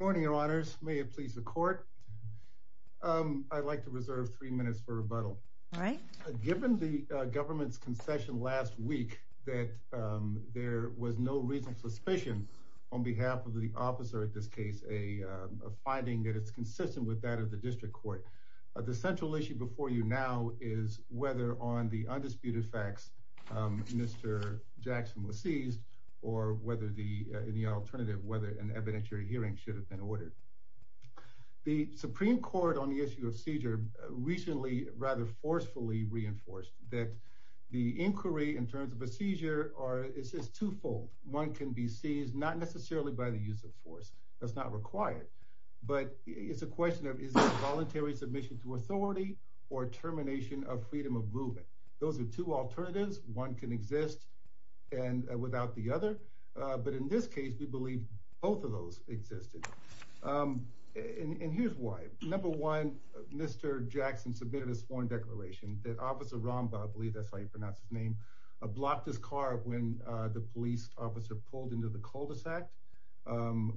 Good morning, your honors. May it please the court. I'd like to reserve three minutes for rebuttal. Given the government's concession last week that there was no recent suspicion on behalf of the officer at this case, a finding that it's consistent with that of the district court. The central issue before you now is whether on the undisputed facts Mr. Jackson was seized or whether the alternative, whether an evidentiary hearing should have been ordered. The Supreme Court on the issue of seizure recently rather forcefully reinforced that the inquiry in terms of a seizure is twofold. One can be seized not necessarily by the use of force, that's not required, but it's a question of is it voluntary submission to authority or termination of freedom of movement. Those are two alternatives. One can exist and without the other. But in this case, we believe both of those existed. And here's why. Number one, Mr. Jackson submitted a sworn declaration that Officer Romba, I believe that's how you pronounce his name, blocked his car when the police officer pulled into the cul-de-sac.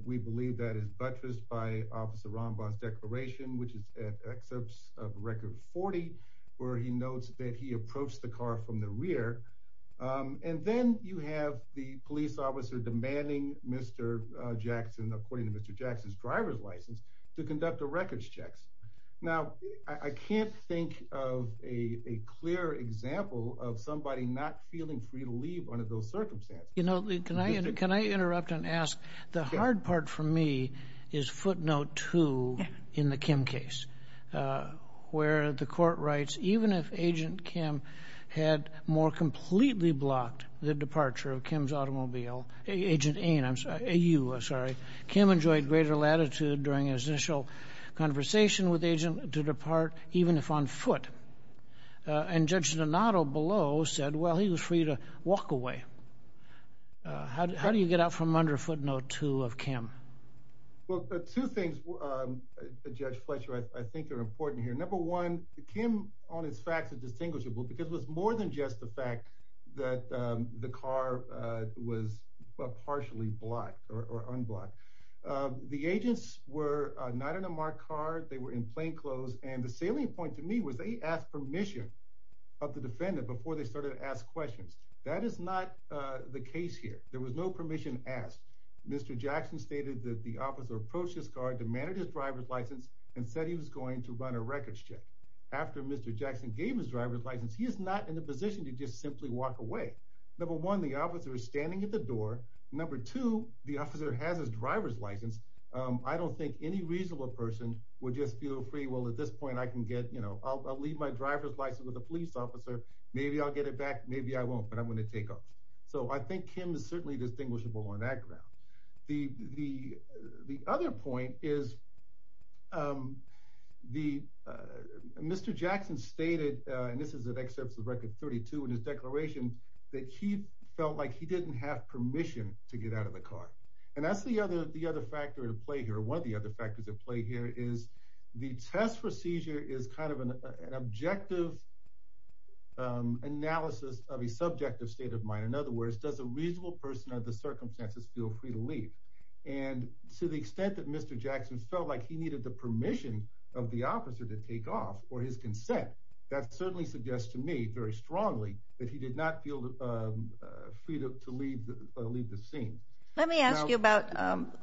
We believe that is buttressed by Officer Romba's declaration, which is excerpts of Record 40, where he notes that he approached the car from the rear. And then you have the police officer demanding Mr. Jackson, according to Mr. Jackson's driver's license, to conduct the records checks. Now, I can't think of a clear example of somebody not feeling free to leave under those circumstances. You know, can I interrupt and ask, the hard part for me is footnote two in the Kim case, where the court writes, even if Agent Kim had more completely blocked the departure of Kim's automobile, Agent A, I'm sorry, A-U, I'm sorry, Kim enjoyed greater latitude during his initial conversation with Agent to depart even if on foot. And Judge Donato below said, well, he was free to walk away. How do you get out from under footnote two of Kim? Well, two things, Judge Fletcher, I think are important here. Number one, Kim on its facts is distinguishable because it was more than just the fact that the car was partially blocked or unblocked. The agents were not in a marked car. They were in plainclothes. And the salient point to me was they asked permission of the defendant before they started to ask questions. That is not the case here. There was no permission asked. Mr. Jackson stated that the officer approached his car, demanded his driver's license, and said he was going to run a records check. After Mr. Jackson gave his driver's license, he is not in a position to just simply walk away. Number one, the officer is standing at the door. Number two, the officer has his driver's license. I don't think any reasonable person would just feel free, well, at this point I can get, I'll leave my driver's license with a police officer. Maybe I'll get it back. Maybe I won't, but I'm going to take off. So I think Kim is certainly distinguishable on that ground. The other point is Mr. Jackson stated, and this is an excerpt of record 32 in his declaration, that he felt like he didn't have permission to get out of the car. And that's the other factor at play here. One of the other factors at play here is the test for seizure is kind of an objective analysis of a subjective state of mind. In other words, does a reasonable person under the circumstances feel free to leave? And to the extent that Mr. Jackson felt like he needed the permission of the officer to take off for his consent, that certainly suggests to me very strongly that he did not feel free to leave the scene. Let me ask you about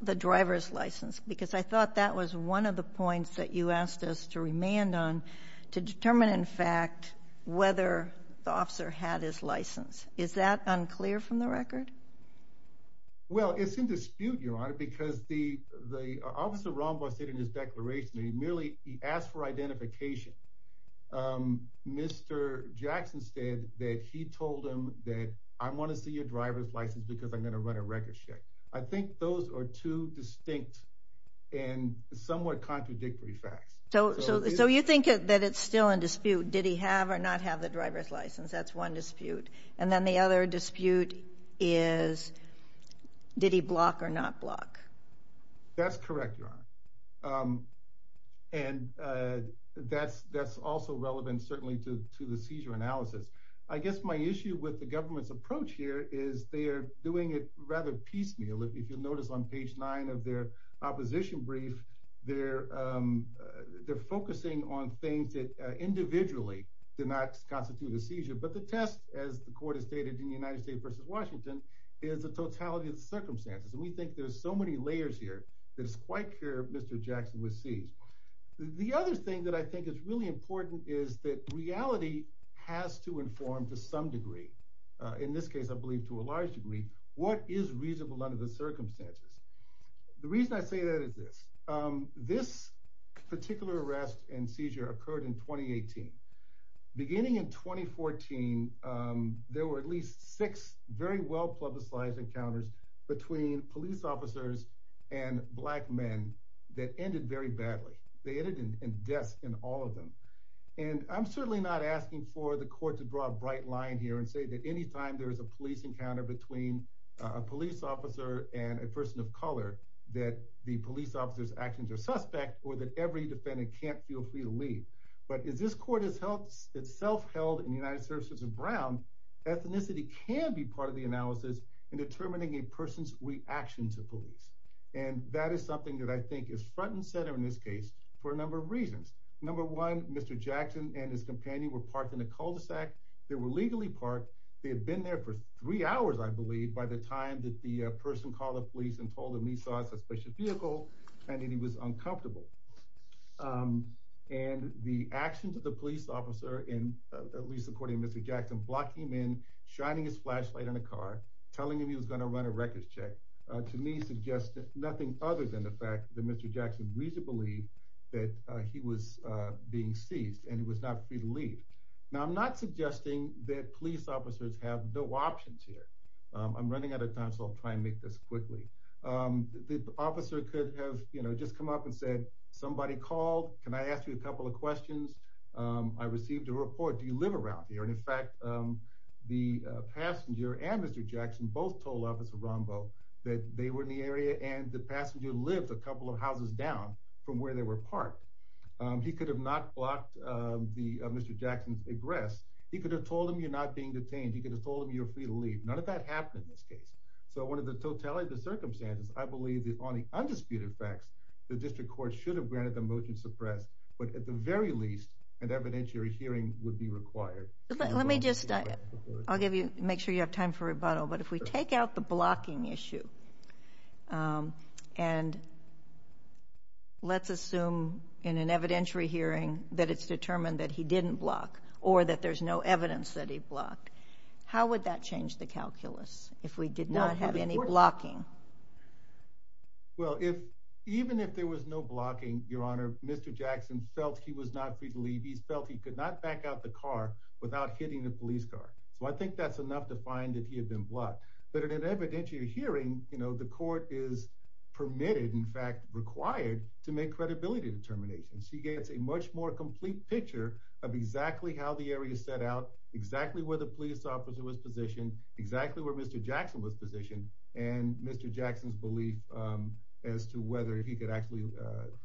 the driver's license, because I thought that was one of the points that you asked us to remand on, to determine, in fact, whether the officer had his license. Is that unclear from the record? Well, it's in dispute, Your Honor, because the officer in his declaration, he merely, he asked for identification. Mr. Jackson said that he told him that I want to see your driver's because I'm going to run a record check. I think those are two distinct and somewhat contradictory facts. So you think that it's still in dispute? Did he have or not have the driver's license? That's one dispute. And then the other dispute is, did he block or not block? That's correct, Your Honor. And that's also relevant certainly to the seizure analysis. I guess my issue with the government's approach here is they're doing it rather piecemeal. If you'll notice on page nine of their opposition brief, they're focusing on things that individually did not constitute a seizure. But the test, as the court has stated in the United States versus Washington, is the totality of the circumstances. And we think there's so many layers here, that it's quite clear Mr. Jackson was seized. The other thing that I think is really important is that reality has to inform to some degree, in this case I believe to a large degree, what is reasonable under the circumstances. The reason I say that is this. This particular arrest and seizure occurred in 2018. Beginning in 2014, there were at least six very well publicized encounters between police officers and black men that ended very badly. They ended in death in all of them. And I'm certainly not asking for the court to draw a bright line here and say that anytime there is a police encounter between a police officer and a person of color, that the police officer's actions are suspect or that every defendant can't feel free to leave. But as this court itself held in the United Services of Brown, ethnicity can be part of the analysis in determining a person's reaction to police. And that is something that I think is front and center in this case for a number of reasons. Number one, Mr. Jackson and his companion were parked in a cul-de-sac. They were legally parked. They had been there for three hours, I believe, by the time that the person called the police and told them he saw a suspicious vehicle and that he was uncomfortable. And the action to the police officer, at least according to Mr. Jackson, blocking him in, shining his flashlight in a car, telling him he was going to run a records check, to me suggests nothing other than the fact that Mr. Jackson reasoned to believe that he was being seized and he was not free to leave. Now, I'm not suggesting that police officers have no options here. I'm running out of time, so I'll try and make this quickly. The officer could have, you know, just come up and said, somebody called. Can I ask you a couple of questions? I received a report. Do you live around here? And in fact, the passenger and Mr. Jackson both told Officer Rombo that they were in the area and the passenger lived a couple of houses down from where they were parked. He could have not blocked the Mr. Jackson's egress. He could have told him you're not being detained. He could have told him you're free to leave. None of that happened in this case. So, under the totality of the circumstances, I believe that on the undisputed facts, the district court should have granted the motion to suppress, but at the very least, an evidentiary hearing would be required. Let me just, I'll give you, make sure you have time for that. And let's assume in an evidentiary hearing that it's determined that he didn't block or that there's no evidence that he blocked. How would that change the calculus if we did not have any blocking? Well, even if there was no blocking, Your Honor, Mr. Jackson felt he was not free to leave. He felt he could not back out the car without hitting the police car. So I think that's to find that he had been blocked. But in an evidentiary hearing, you know, the court is permitted, in fact required, to make credibility determinations. He gets a much more complete picture of exactly how the area set out, exactly where the police officer was positioned, exactly where Mr. Jackson was positioned, and Mr. Jackson's belief as to whether he could actually,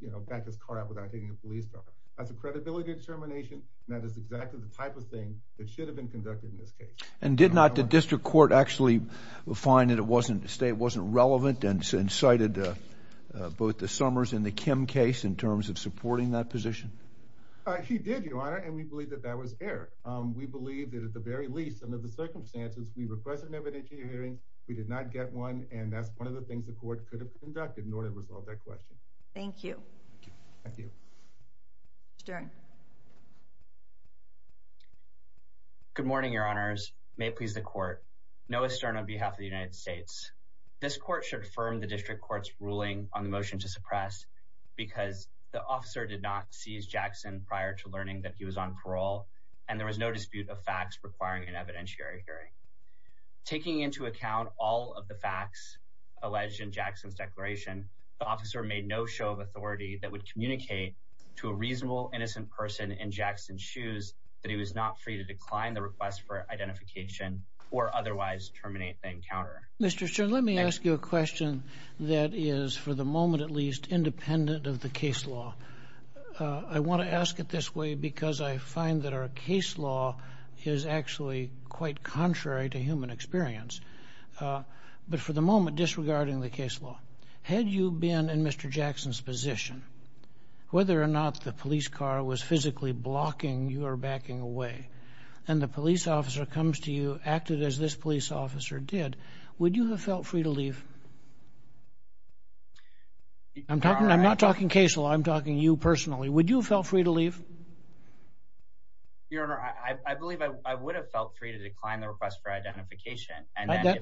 you know, back his car up without hitting a police car. That's a credibility determination. That is exactly the type of thing that should have been conducted in this case. And did not the district court actually find that it wasn't relevant and cited both the Summers and the Kim case in terms of supporting that position? He did, Your Honor, and we believe that that was error. We believe that at the very least, under the circumstances, we requested an evidentiary hearing. We did not get one, and that's one of the things the court could have conducted in order to resolve that question. Thank you. Thank you. Good morning, Your Honors. May it please the court. Noah Stern on behalf of the United States. This court should affirm the district court's ruling on the motion to suppress because the officer did not seize Jackson prior to learning that he was on parole, and there was no dispute of facts requiring an evidentiary hearing. Taking into account all of the facts alleged in Jackson's declaration, the officer made no show of authority that would communicate to a reasonable, innocent person in Jackson's shoes that he was not free to decline the request for identification or otherwise terminate the encounter. Mr. Stern, let me ask you a question that is, for the moment at least, independent of the case law. I want to ask it this way because I find that our case law is actually quite contrary to human experience. But for the moment, disregarding the case law, had you been in Mr. Jackson's position, whether or not the police car was physically blocking your backing away, and the police officer comes to you, acted as this police officer did, would you have felt free to leave? I'm talking, I'm not talking case law, I'm talking you personally. Would you have felt free to leave? Your Honor, I believe I would have felt free to decline the request for identification.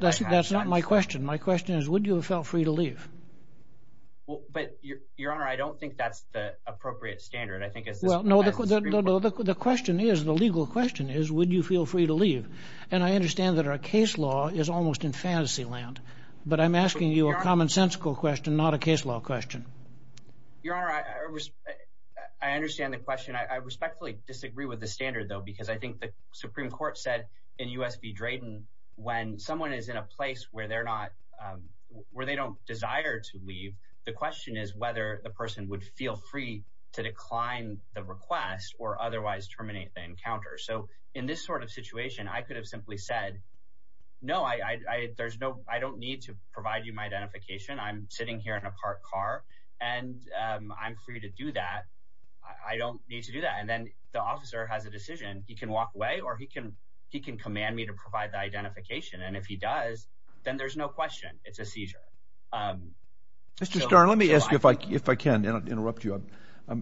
That's not my question. My question is, would you have felt free to leave? Well, but Your Honor, I don't think that's the appropriate standard. I think it's... Well, no, the question is, the legal question is, would you feel free to leave? And I understand that our case law is almost in fantasy land, but I'm asking you a commonsensical question, not a case law question. Your Honor, I understand the question. I respectfully disagree with the standard, though, because I think the Supreme Court said in U.S. v. Drayton, when someone is in a place where they don't desire to leave, the question is whether the person would feel free to decline the request or otherwise terminate the encounter. So in this sort of situation, I could have simply said, no, I don't need to provide you my identification. I'm sitting here in a parked car, and I'm free to do that. I don't need to do that. And then the officer has a decision. He can walk if he does, then there's no question. It's a seizure. Mr. Starr, let me ask you, if I can interrupt you,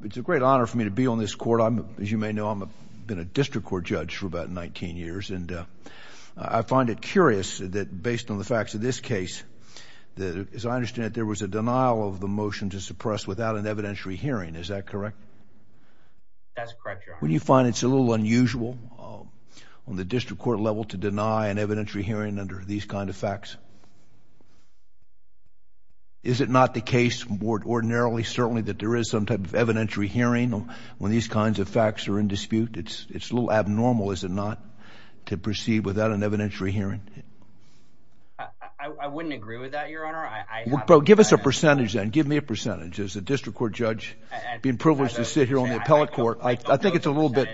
it's a great honor for me to be on this court. As you may know, I've been a district court judge for about 19 years, and I find it curious that based on the facts of this case, as I understand it, there was a denial of the motion to suppress without an evidentiary hearing. Is that correct? That's correct, Your Honor. You find it's a little unusual on the district court level to deny an evidentiary hearing under these kind of facts? Is it not the case more ordinarily, certainly, that there is some type of evidentiary hearing when these kinds of facts are in dispute? It's a little abnormal, is it not, to proceed without an evidentiary hearing? I wouldn't agree with that, Your Honor. Give us a percentage, then. Give me a percentage. As a district court judge, being privileged to sit here on the appellate court, I think it's a little bit...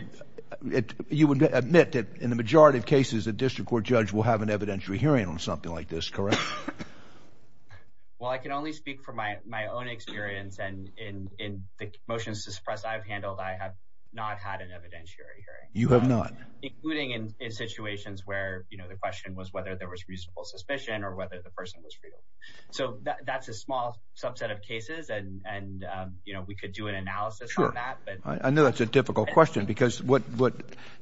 You would admit that in the majority of cases, a district court judge will have an evidentiary hearing on something like this, correct? Well, I can only speak from my own experience, and in the motions to suppress I've handled, I have not had an evidentiary hearing. You have not? Including in situations where the question was whether there was reasonable suspicion or whether the person was freed. That's a small subset of cases, and we could do an analysis on that. I know that's a difficult question, because what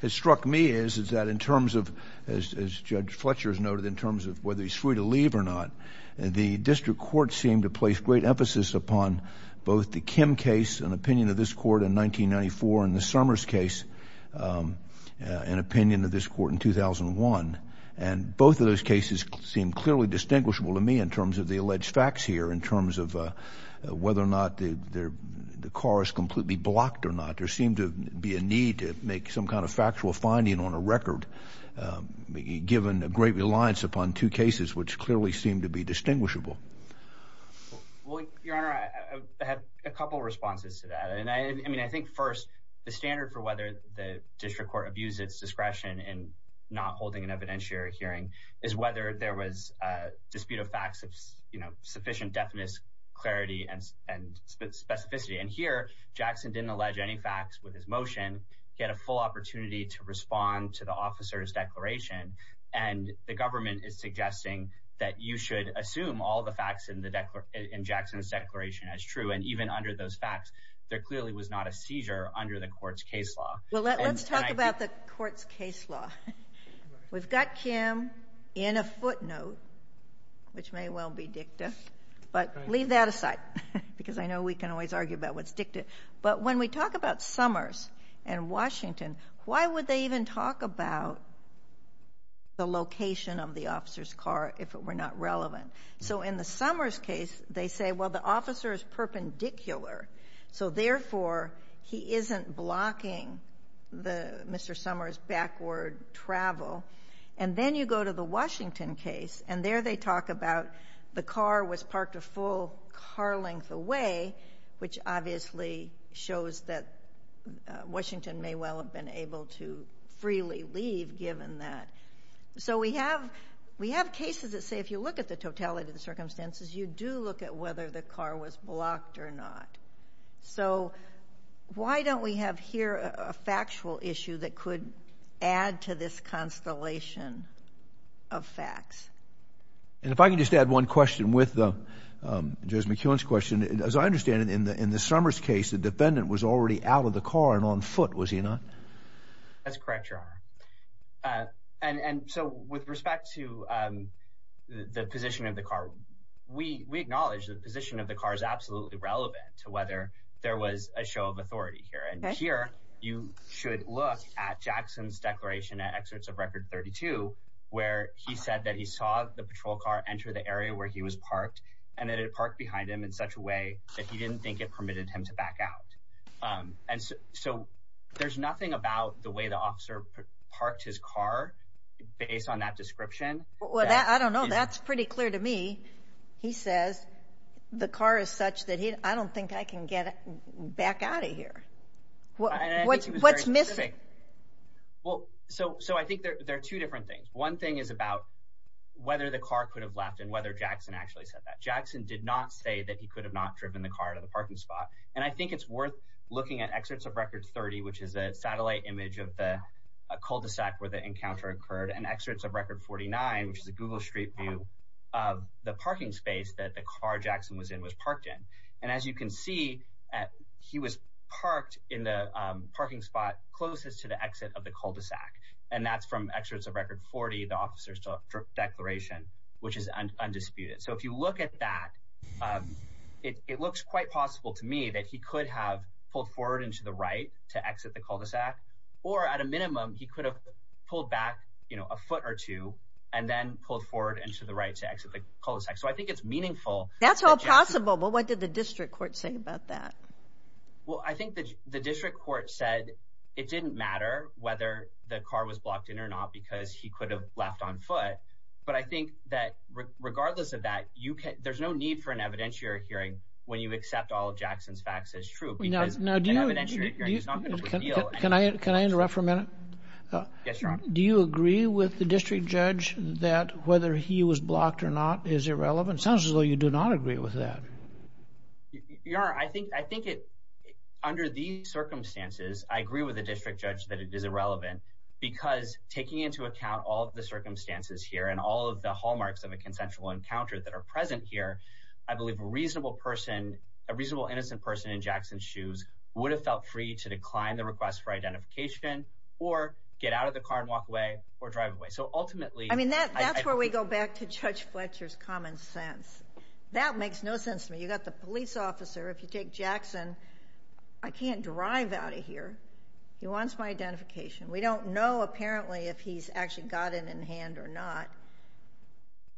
has struck me is that in terms of, as Judge Fletcher has noted, in terms of whether he's free to leave or not, the district court seemed to place great emphasis upon both the Kim case, an opinion of this court in 1994, and the Summers case, an opinion of this court in 2001. And both of those cases seem clearly distinguishable to me in terms of the alleged facts here, in terms of whether or not the car is completely blocked or not. There seemed to be a need to make some kind of factual finding on a record, given a great reliance upon two cases which clearly seemed to be distinguishable. Well, Your Honor, I have a couple responses to that. And I mean, I think first, the standard for whether the district court abused its discretion in not holding an evidentiary hearing is whether there was a dispute of facts of, you know, sufficient deafness, clarity, and specificity. And here, Jackson didn't allege any facts with his motion. And the government is suggesting that you should assume all the facts in Jackson's declaration as true. And even under those facts, there clearly was not a seizure under the court's case law. Well, let's talk about the court's case law. We've got Kim in a footnote, which may well be dicta. But leave that aside, because I know we can always argue about what's dicta. But when we talk about Summers and Washington, why would they even talk about the location of the officer's car if it were not relevant? So in the Summers case, they say, well, the officer is perpendicular. So therefore, he isn't blocking Mr. Summers' backward travel. And then you go to the Washington case, and there they talk about the car was parked a full car length away, which obviously shows that Washington may well have been able to So we have we have cases that say, if you look at the totality of the circumstances, you do look at whether the car was blocked or not. So why don't we have here a factual issue that could add to this constellation of facts? And if I can just add one question with the, Judge McKeown's question, as I understand it, in the in the Summers case, the defendant was already out of the car and on foot, was he not? That's correct, Your Honor. And so with respect to the position of the car, we acknowledge the position of the car is absolutely relevant to whether there was a show of authority here. And here you should look at Jackson's declaration at Excerpts of Record 32, where he said that he saw the patrol car enter the area where he was parked and that it parked behind him in such a way that he didn't think it permitted him to back out. And so there's nothing about the way the officer parked his car based on that description. Well, I don't know. That's pretty clear to me. He says the car is such that I don't think I can get back out of here. What's missing? Well, so so I think there are two different things. One thing is about whether the car could have left and whether Jackson actually said that. Jackson did not say that he could have not driven the car to the parking spot. And I think it's worth looking at Excerpts of Record 30, which is a satellite image of the cul-de-sac where the encounter occurred, and Excerpts of Record 49, which is a Google Street View of the parking space that the car Jackson was in was parked in. And as you can see, he was parked in the parking spot closest to the exit of the cul-de-sac. And that's from Excerpts of Record 40, the officer's declaration, which is undisputed. So if you look at that, it looks quite possible to me that he could have pulled forward and to the right to exit the cul-de-sac. Or at a minimum, he could have pulled back, you know, a foot or two and then pulled forward and to the right to exit the cul-de-sac. So I think it's meaningful. That's all possible. But what did the district court say about that? Well, I think the district court said it didn't matter whether the car was blocked in or not, because he could have left on foot. But I think that regardless of that, there's no need for an evidentiary hearing when you accept all of Jackson's facts as true. Can I interrupt for a minute? Yes, Your Honor. Do you agree with the district judge that whether he was blocked or not is irrelevant? It sounds as though you do not agree with that. Your Honor, I think under these circumstances, I agree with the district judge that it is irrelevant, because taking into account all of the circumstances here and all of the hallmarks of a consensual encounter that are present here, I believe a reasonable person, a reasonable innocent person in Jackson's shoes would have felt free to decline the request for identification or get out of the car and walk away or drive away. So ultimately— I mean, that's where we go back to Judge Fletcher's common sense. That makes no sense to me. You got the police officer. If you take Jackson, I can't drive out of here. He wants my identification. We don't know, apparently, if he's actually got it in hand or not.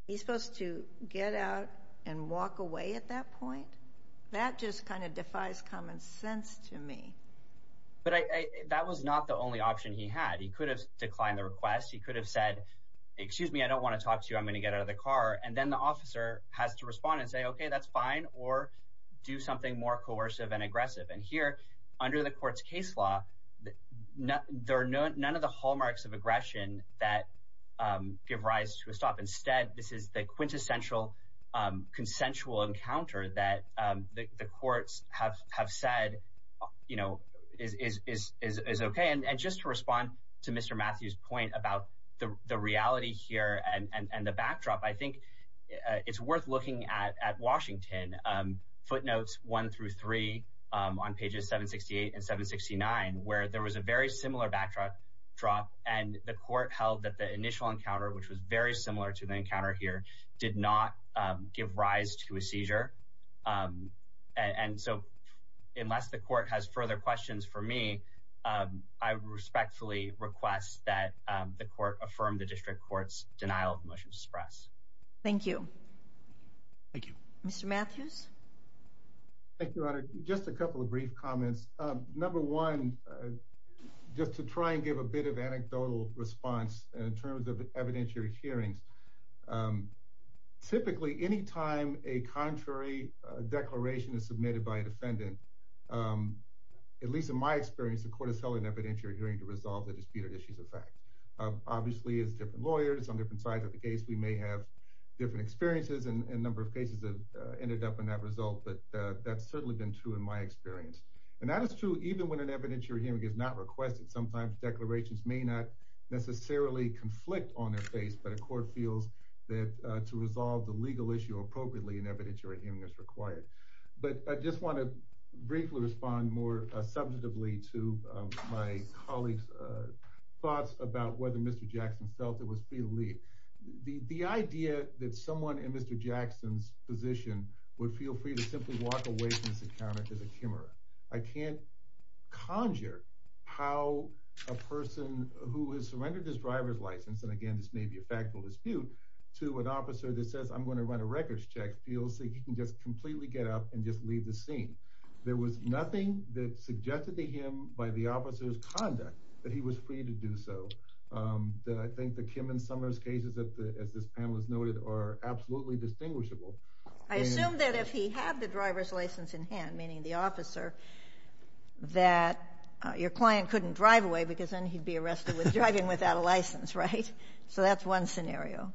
He's supposed to get out and walk away at that point? That just kind of defies common sense to me. But that was not the only option he had. He could have declined the request. He could have said, excuse me, I don't want to talk to you. I'm going to get out of the car. And then the officer has to respond and say, okay, that's fine, or do something more coercive and aggressive. And here, under the court's case law, there are none of the hallmarks of aggression that give rise to a stop. Instead, this is the quintessential consensual encounter that the courts have said is okay. And just to respond to Mr. Matthews' point about the reality here and the backdrop, I think it's worth looking at Washington, footnotes one through three on pages 768 and 769, where there was a very similar backdrop, and the court held that the initial encounter, which was very similar to the encounter here, did not give rise to a seizure. And so unless the court has further questions for me, I respectfully request that the court affirm the district court's denial of the motion to express. Thank you. Thank you. Mr. Matthews. Thank you, Your Honor. Just a couple of brief comments. Number one, just to try and give a bit of anecdotal response in terms of evidentiary hearings. Typically, any time a contrary declaration is submitted by a defendant, at least in my experience, the court has held an evidentiary hearing to resolve the disputed issues of fact. Obviously, as different lawyers on different sides of the case, we may have different experiences, and a number of cases have ended up in that result, but that's certainly been true in my experience. And that is true even when an evidentiary hearing is not requested. Sometimes declarations may not necessarily conflict on their face, but a court feels that to resolve the legal issue appropriately, an evidentiary hearing is required. But I just want to briefly respond more substantively to my colleague's thoughts about whether Mr. Jackson felt it was free to leave. The idea that someone in Mr. Jackson's position would feel free to simply walk away from this encounter as a Kimmerer, I can't conjure how a person who has surrendered his driver's license, and again, this may be a factual dispute, to an officer that says, I'm going to run a records check, feels that he can just completely get up and just leave the scene. There was nothing that suggested to him by the officer's conduct that he was free to do so. Then I think the Kim and Summers cases, as this panel has noted, are absolutely distinguishable. I assume that if he had the driver's license in hand, meaning the officer, that your client couldn't drive away because then he'd be arrested with driving without a license, right? So that's one scenario.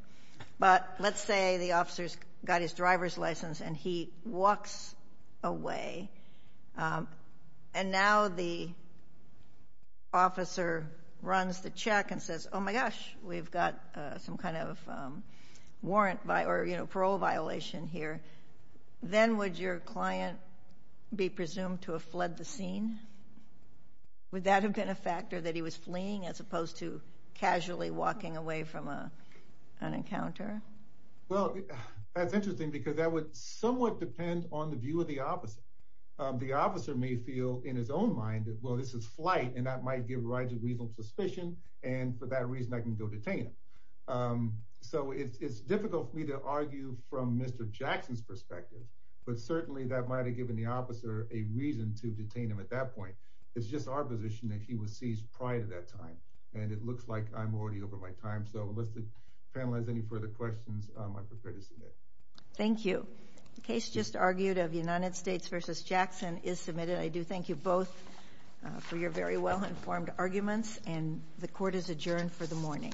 But let's say the officer's got his driver's license and he walks away. And now the officer runs the check and says, oh my gosh, we've got some kind of parole violation here. Then would your client be presumed to have fled the scene? Would that have been a factor that he was fleeing as opposed to casually walking away from an encounter? Well, that's interesting because that would somewhat depend on the view of the officer. The officer may feel in his own mind that, well, this is flight, and that might give rise to reasonable suspicion. And for that reason, I can go detain him. So it's difficult for me to argue from Mr. Jackson's perspective, but certainly that might have given the officer a reason to detain him at that point. It's just our position that he was seized prior to that time. And it looks like I'm already over my time. So unless the panel has any further questions, I'm prepared to submit. Thank you. The case just argued of United States v. Jackson is submitted. I do thank you both for your very well-informed arguments. And the court is adjourned for the morning.